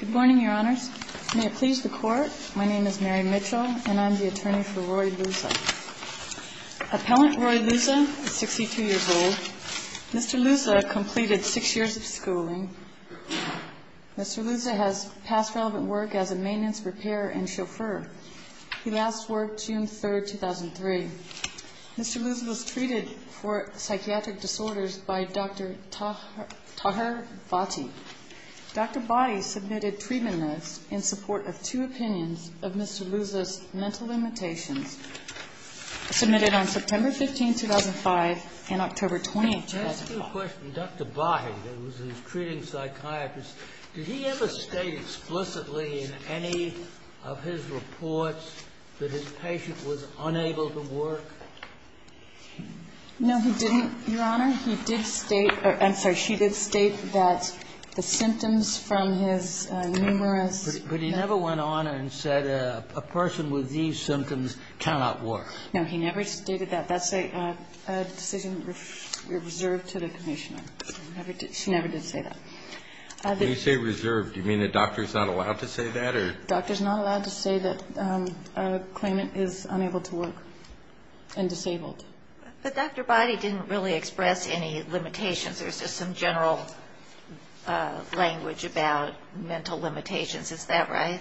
Good morning, your honors. May it please the court, my name is Mary Mitchell and I'm the attorney for Roy Looza. Appellant Roy Looza is 62 years old. Mr. Looza completed six years of schooling. Mr. Looza has past relevant work as a maintenance repairer and chauffeur. He last worked June 3, 2003. Mr. Looza was treated for psychiatric disorders by Dr. Tahir Bhatti. Dr. Bhatti submitted treatment notes in support of two opinions of Mr. Looza's mental limitations. Submitted on September 15, 2005 and October 20, 2004. Let me ask you a question. Dr. Bhatti, who was a treating psychiatrist, did he ever state explicitly in any of his reports that his patient was unable to work? No, he didn't, your honor. He did state or I'm sorry, she did state that the symptoms from his numerous But he never went on and said a person with these symptoms cannot work. No, he never stated that. That's a decision reserved to the commissioner. She never did say that. When you say reserved, do you mean the doctor is not allowed to say that or The doctor is not allowed to say that a claimant is unable to work and disabled. But Dr. Bhatti didn't really express any limitations. There's just some general language about mental limitations. Is that right?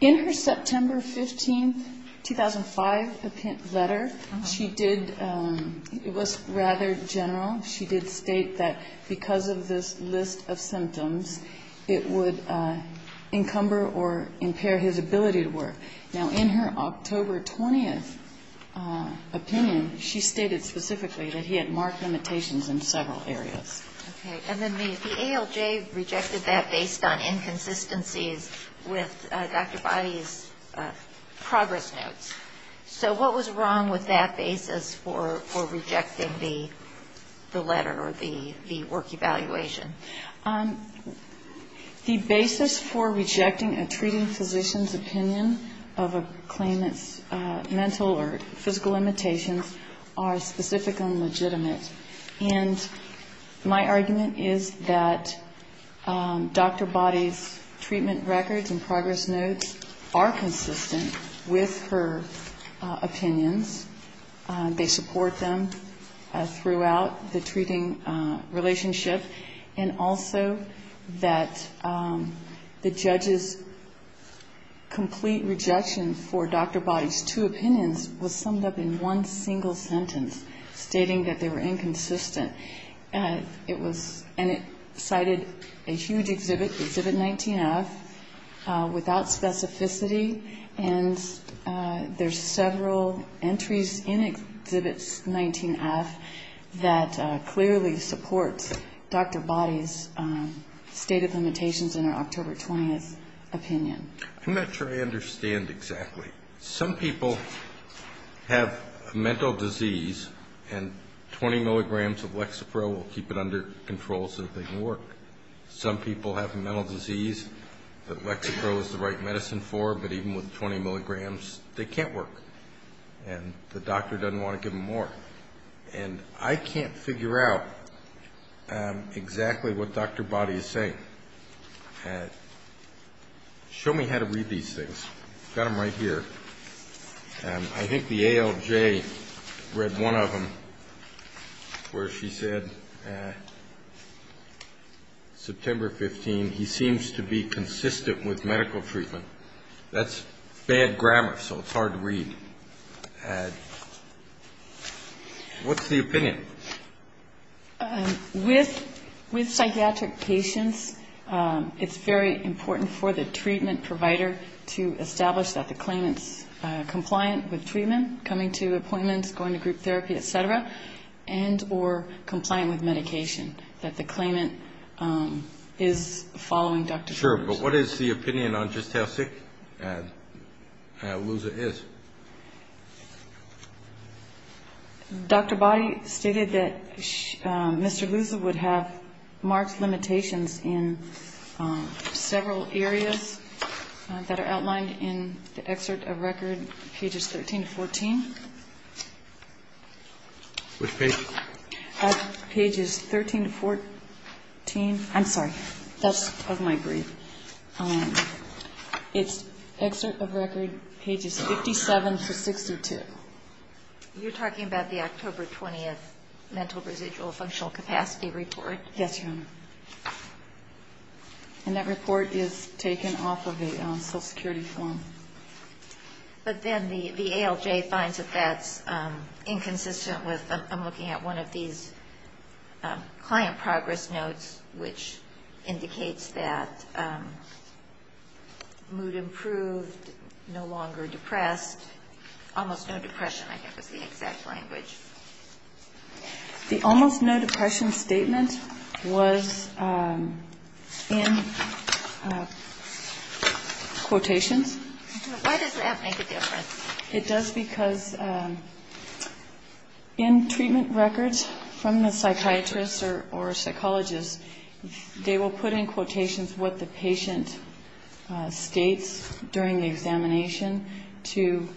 In her September 15, 2005 letter, she did, it was rather general. She did state that because of this list of symptoms, it would encumber or impair his ability to work. Now, in her October 20th opinion, she stated specifically that he had marked limitations in several areas. And then the ALJ rejected that based on inconsistencies with Dr. Bhatti's progress notes. So what was wrong with that basis for rejecting the letter or the work evaluation? The basis for rejecting a treating physician's opinion of a claimant's mental or physical limitations are specific and legitimate. And my argument is that Dr. Bhatti's treatment records and progress notes are consistent with her opinions. They support them throughout the treating relationship. And also that the judge's complete rejection for Dr. Bhatti's two opinions was summed up in one single sentence, stating that they were inconsistent. And it cited a huge exhibit, Exhibit 19-F, without specificity. And there's several entries in Exhibit 19-F that clearly support Dr. Bhatti's state of limitations in her October 20th opinion. I'm not sure I understand exactly. Some people have a mental disease, and 20 milligrams of Lexapro will keep it under control so that they can work. Some people have a mental disease that Lexapro is the right medicine for, but even with 20 milligrams, they can't work. And the doctor doesn't want to give them more. And I can't figure out exactly what Dr. Bhatti is saying. Show me how to read these things. I've got them right here. I think the ALJ read one of them where she said, September 15, he seems to be consistent with medical treatment. That's bad grammar, so it's hard to read. What's the opinion? With psychiatric patients, it's very important for the treatment provider to establish that the claimant's compliant with treatment, coming to appointments, going to group therapy, et cetera, and or compliant with medication, that the claimant is following Dr. Bhatti's instructions. Sure, but what is the opinion on just how sick Louza is? Dr. Bhatti stated that Mr. Louza would have marked limitations in several areas that are outlined in the excerpt of record, pages 13 to 14. Which page? Pages 13 to 14. I'm sorry, that's of my brief. It's excerpt of record, pages 57 to 62. You're talking about the October 20th Mental Residual Functional Capacity Report? Yes, Your Honor. And that report is taken off of the Social Security form. But then the ALJ finds that that's inconsistent with, I'm looking at one of these client progress notes, which indicates that mood improved, no longer depressed, almost no depression, I think is the exact language. The almost no depression statement was in quotations. Why does that make a difference? It does because in treatment records from the psychiatrist or psychologist, they will put in quotations what the patient states during the examination to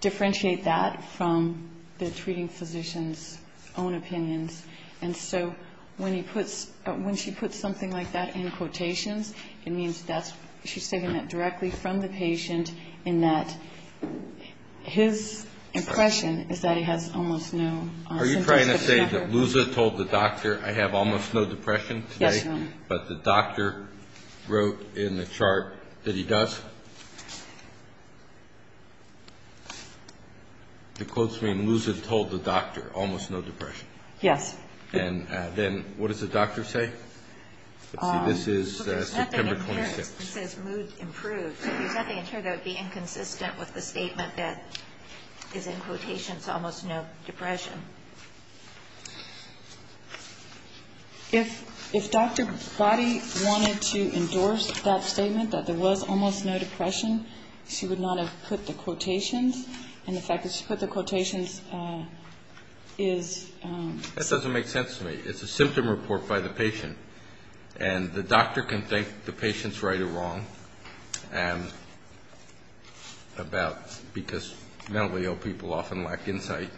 differentiate that from the treating physician's own opinions. And so when he puts, when she puts something like that in quotations, it means that's, she's taking that directly from the patient in that his impression is that he has almost no symptoms. Are you trying to say that Lusa told the doctor I have almost no depression today? Yes, Your Honor. But the doctor wrote in the chart that he does? The quotes mean Lusa told the doctor almost no depression? Yes. And then what does the doctor say? This is September 26th. He says mood improved. You said in the chart that it would be inconsistent with the statement that is in quotations almost no depression. If Dr. Boddy wanted to endorse that statement that there was almost no depression, she would not have put the quotations. And the fact that she put the quotations is... That doesn't make sense to me. It's a symptom report by the patient, and the doctor can think the patient's right or wrong about, because mentally ill people often lack insight.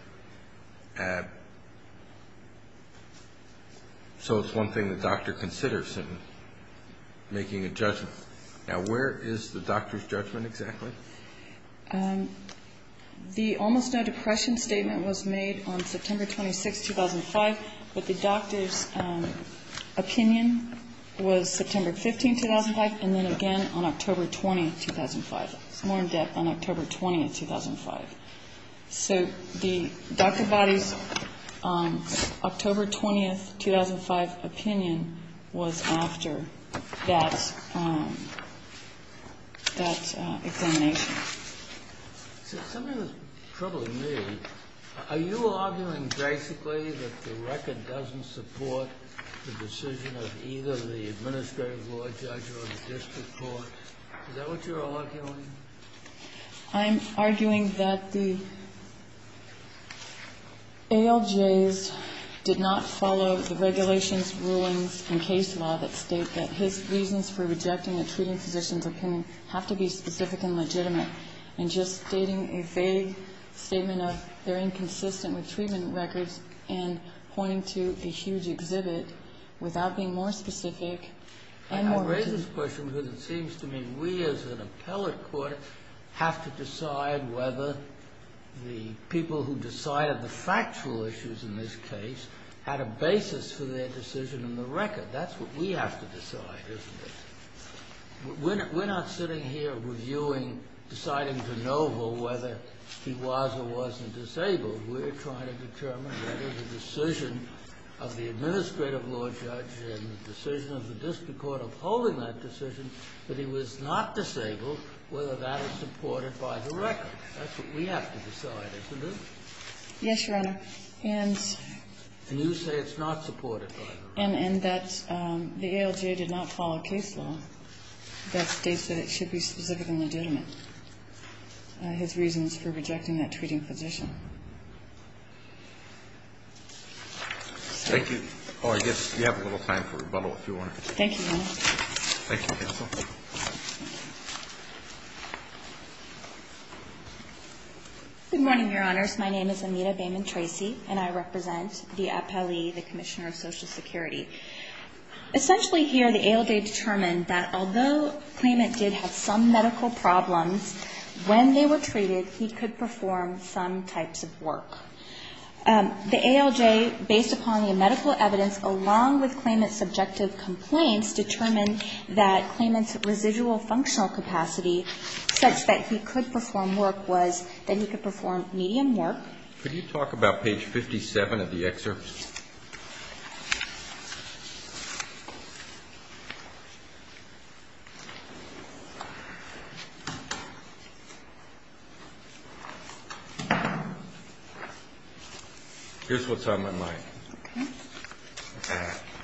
So it's one thing the doctor considers in making a judgment. Now where is the doctor's judgment exactly? The almost no depression statement was made on September 26th, 2005, but the doctor's opinion was September 15th, 2005, and then again on October 20th, 2005. It's more in depth on October 20th, 2005. So Dr. Boddy's October 20th, 2005 opinion was after that examination. Something that's troubling me, are you arguing basically that the record doesn't support the decision of either the administrative law judge or the district court? Is that what you're arguing? I'm arguing that the ALJs did not follow the regulations, rulings, and case law that state that his reasons for rejecting a treating physician's opinion have to be specific and legitimate. And just stating a vague statement of they're inconsistent with treatment records and pointing to a huge exhibit without being more specific and more legitimate. I raise this question because it seems to me we as an appellate court have to decide whether the people who decided the factual issues in this case had a basis for their decision in the record. That's what we have to decide, isn't it? We're not deciding to know whether he was or wasn't disabled. We're trying to determine whether the decision of the administrative law judge and the decision of the district court upholding that decision, that he was not disabled, whether that is supported by the record. That's what we have to decide, isn't it? Yes, Your Honor. And you say it's not supported by the record? And that the ALJ did not follow case law that states that it should be specific and legitimate, his reasons for rejecting that treating physician. Thank you. Oh, I guess we have a little time for rebuttal, if you want to. Thank you, counsel. Good morning, Your Honors. My name is Amita Bayman-Tracy, and I represent the appellee, the Commissioner of Social Security. Essentially here, the ALJ determined that although Klayment did have some medical problems, when they were treated, he could perform some types of work. And the compliance determined that Klayment's residual functional capacity, such that he could perform work, was that he could perform medium work. Could you talk about page 57 of the excerpt? Here's what's on my mind.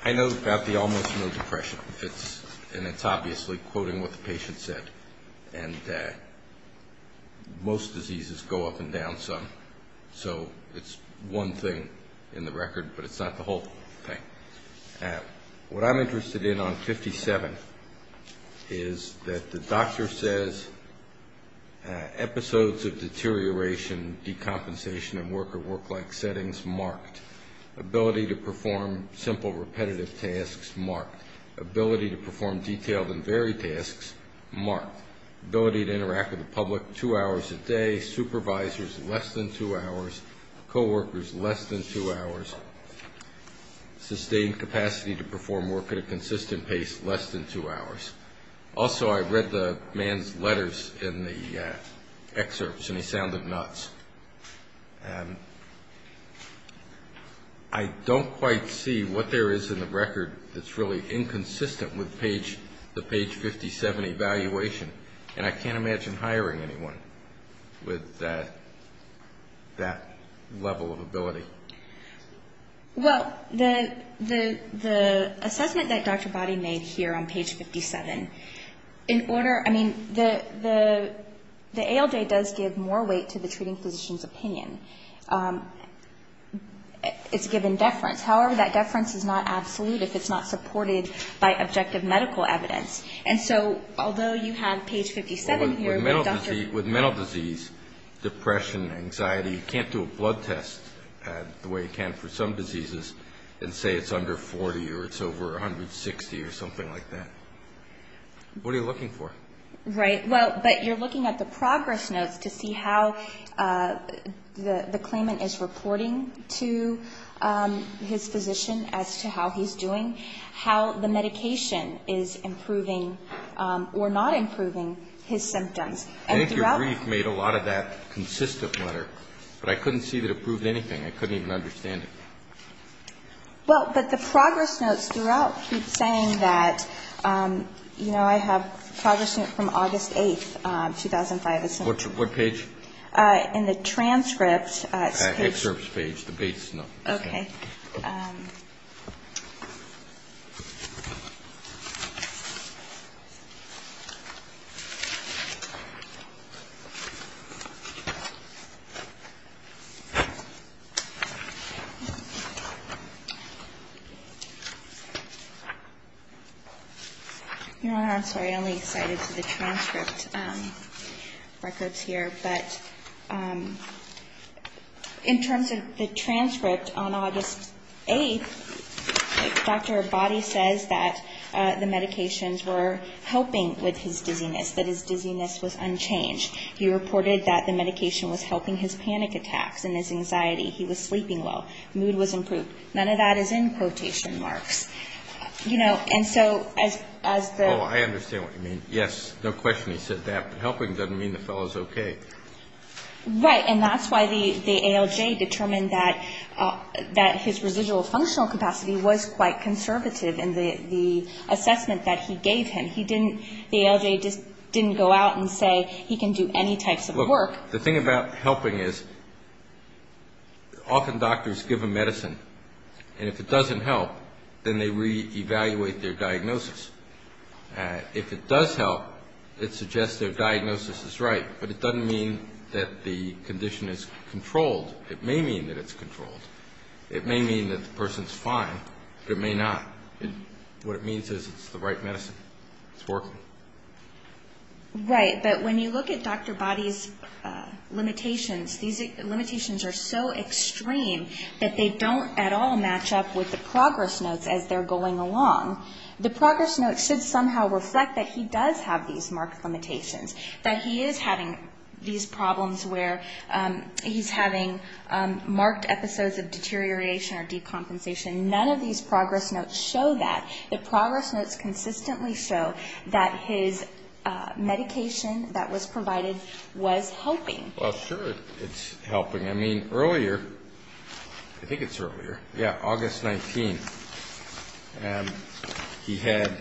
I know about the almost no depression, and it's obviously quoting what the patient said, and most diseases go up and down some. So it's one thing in the record, but it's not the whole thing. What I'm interested in on 57 is that the doctor says episodes of deterioration, decompensation, and work-or-work-like settings marked. Ability to perform simple, repetitive tasks marked. Ability to perform detailed and varied tasks marked. Ability to interact with the public two hours a day, supervisors less than two hours a day. Co-workers less than two hours. Sustained capacity to perform work at a consistent pace less than two hours. Also, I read the man's letters in the excerpts, and he sounded nuts. I don't quite see what there is in the record that's really inconsistent with the page 57 evaluation, and I can't imagine hiring anyone with that. That level of ability. Well, the assessment that Dr. Body made here on page 57, in order, I mean, the ALJ does give more weight to the treating physician's opinion. It's a given deference. However, that deference is not absolute if it's not supported by objective medical evidence. And so although you have page 57 here... With mental disease, depression, anxiety, you can't do a blood test the way you can for some diseases and say it's under 40 or it's over 160 or something like that. What are you looking for? Right. Well, but you're looking at the progress notes to see how the claimant is reporting to his physician as to how he's doing, how the medication is improving or not improving his symptoms. And your brief made a lot of that consistent letter, but I couldn't see that it proved anything. I couldn't even understand it. Well, but the progress notes throughout keep saying that, you know, I have progress notes from August 8th, 2005. What page? In the transcript. I'm sorry, I only cited the transcript records here, but in terms of the transcript on August 8th, Dr. Body says that the medications were helping with his dizziness, that his dizziness was unchanged. He reported that the medication was helping his panic attacks and his anxiety. He was sleeping well. Mood was improved. None of that is in quotation marks. You know, and so as the... Oh, I understand what you mean. Yes, no question he said that, but helping doesn't mean the fellow's okay. Right. And that's why the ALJ determined that his residual functional capacity was quite conservative in the assessment that he gave him. He didn't, the ALJ just didn't go out and say he can do any types of work. Look, the thing about helping is often doctors give a medicine, and if it doesn't help, then they reevaluate their diagnosis. If it does help, it suggests their diagnosis is right, but it doesn't mean that the condition is controlled. It may mean that it's controlled. It may mean that the person's fine, but it may not. What it means is it's the right medicine. It's working. Right. But when you look at Dr. Boddy's limitations, these limitations are so extreme that they don't at all match up with the progress notes as they're going along. The progress notes should somehow reflect that he does have these marked limitations. That he is having these problems where he's having marked episodes of deterioration or decompensation. None of these progress notes show that. The progress notes consistently show that his medication that was provided was helping. Well, sure it's helping. I mean, earlier, I think it's earlier, yeah, August 19th, he had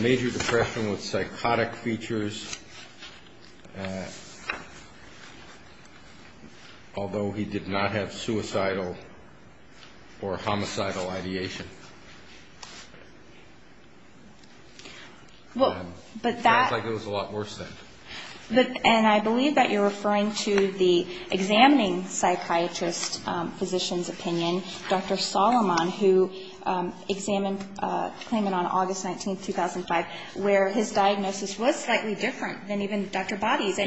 major depression with psychotic features. Although he did not have suicidal or homicidal ideation. Well, but that. It sounds like it was a lot worse then. And I believe that you're referring to the examining psychiatrist physician's opinion, Dr. Solomon, who examined, claimed it on August 19th, 2005, where his diagnosis was slightly different. Than even Dr. Boddy's. Yeah,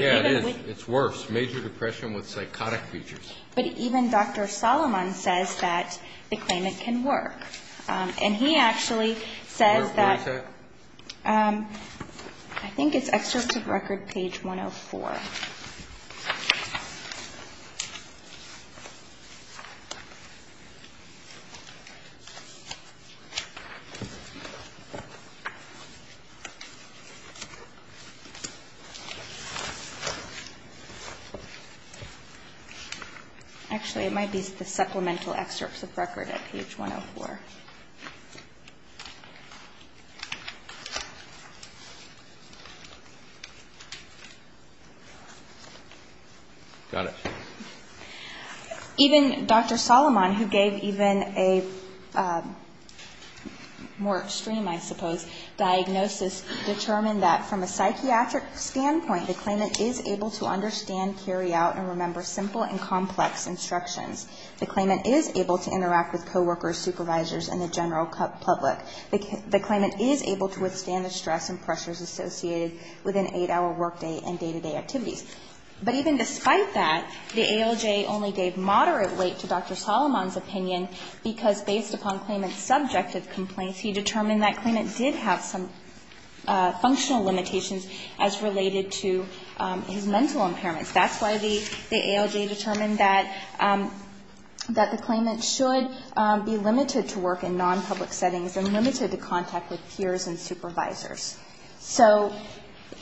it's worse. Major depression with psychotic features. But even Dr. Solomon says that the claimant can work. And he actually says that, I think it's excerpt of record page 104. Actually, it might be the supplemental excerpts of record at page 104. Got it. Even Dr. Solomon, who gave even a more extreme, I suppose, diagnosis, determined that from a psychiatric point of view, it's not that bad. But even despite that, the ALJ only gave moderate weight to Dr. Solomon's opinion, because based upon claimant's subjective complaints, he determined that claimant did have some functional limitations as related to his mental impairments. That's why the ALJ determined that the claimant should be limited to work in non-public settings and limited to contact with peers and supervisors. So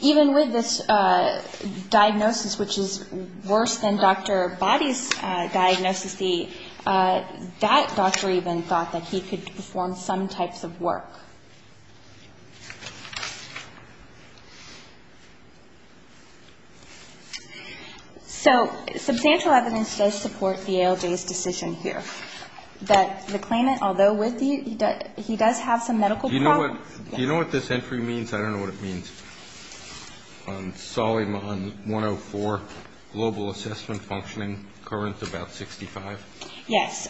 even with this diagnosis, which is worse than Dr. Boddy's diagnosis, that doctor even thought that he could perform some types of work. So substantial evidence does support the ALJ's decision here. That the claimant, although with you, he does have some medical problems. Do you know what this entry means? I don't know what it means. Solomon 104, global assessment functioning, current about 65. Yes.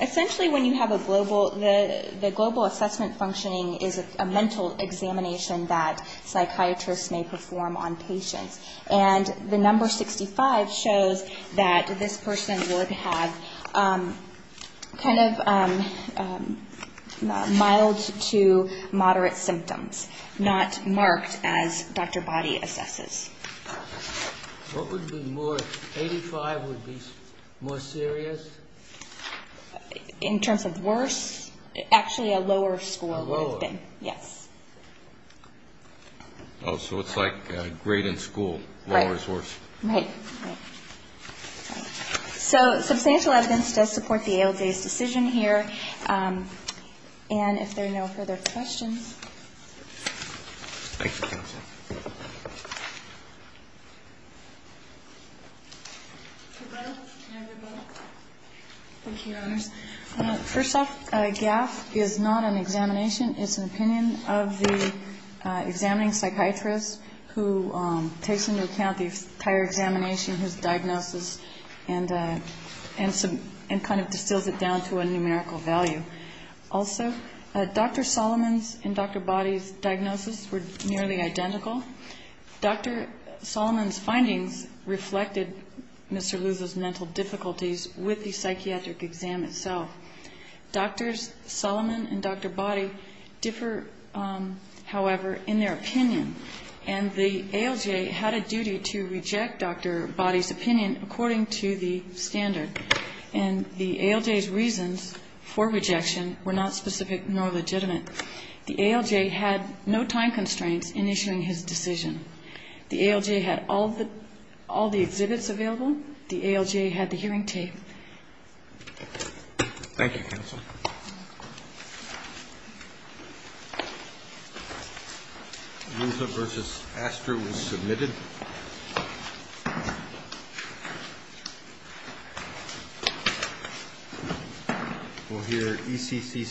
Essentially, when you have a global, the global assessment functioning is a mental examination that psychiatrists may perform on patients. And the number 65 shows that this person would have kind of mild to moderate symptoms, not marked as Dr. Boddy assesses. What would be more, 85 would be more serious? In terms of worse, actually a lower score would have been. Oh, so it's like grade in school, lower is worse. So substantial evidence does support the ALJ's decision here. And if there are no further questions. Thank you, Your Honors. First off, GAF is not an examination. It's an opinion of the examining psychiatrist who takes into account the entire examination, his diagnosis, and kind of distills it down to a numerical value. Also, Dr. Solomon's and Dr. Boddy's diagnosis were nearly identical. Dr. Solomon's findings reflected Mr. Luther's mental difficulties with the psychiatric exam itself. Dr. Solomon and Dr. Boddy differ, however, in their opinion. And the ALJ had a duty to reject Dr. Boddy's opinion according to the standard. And the ALJ's reasons for rejection were not specific nor legitimate. The ALJ had no time constraints in issuing his decision. The ALJ had all the exhibits available. The ALJ had the hearing tape. Thank you, counsel. Luther v. Astor was submitted. We'll hear ECC systems.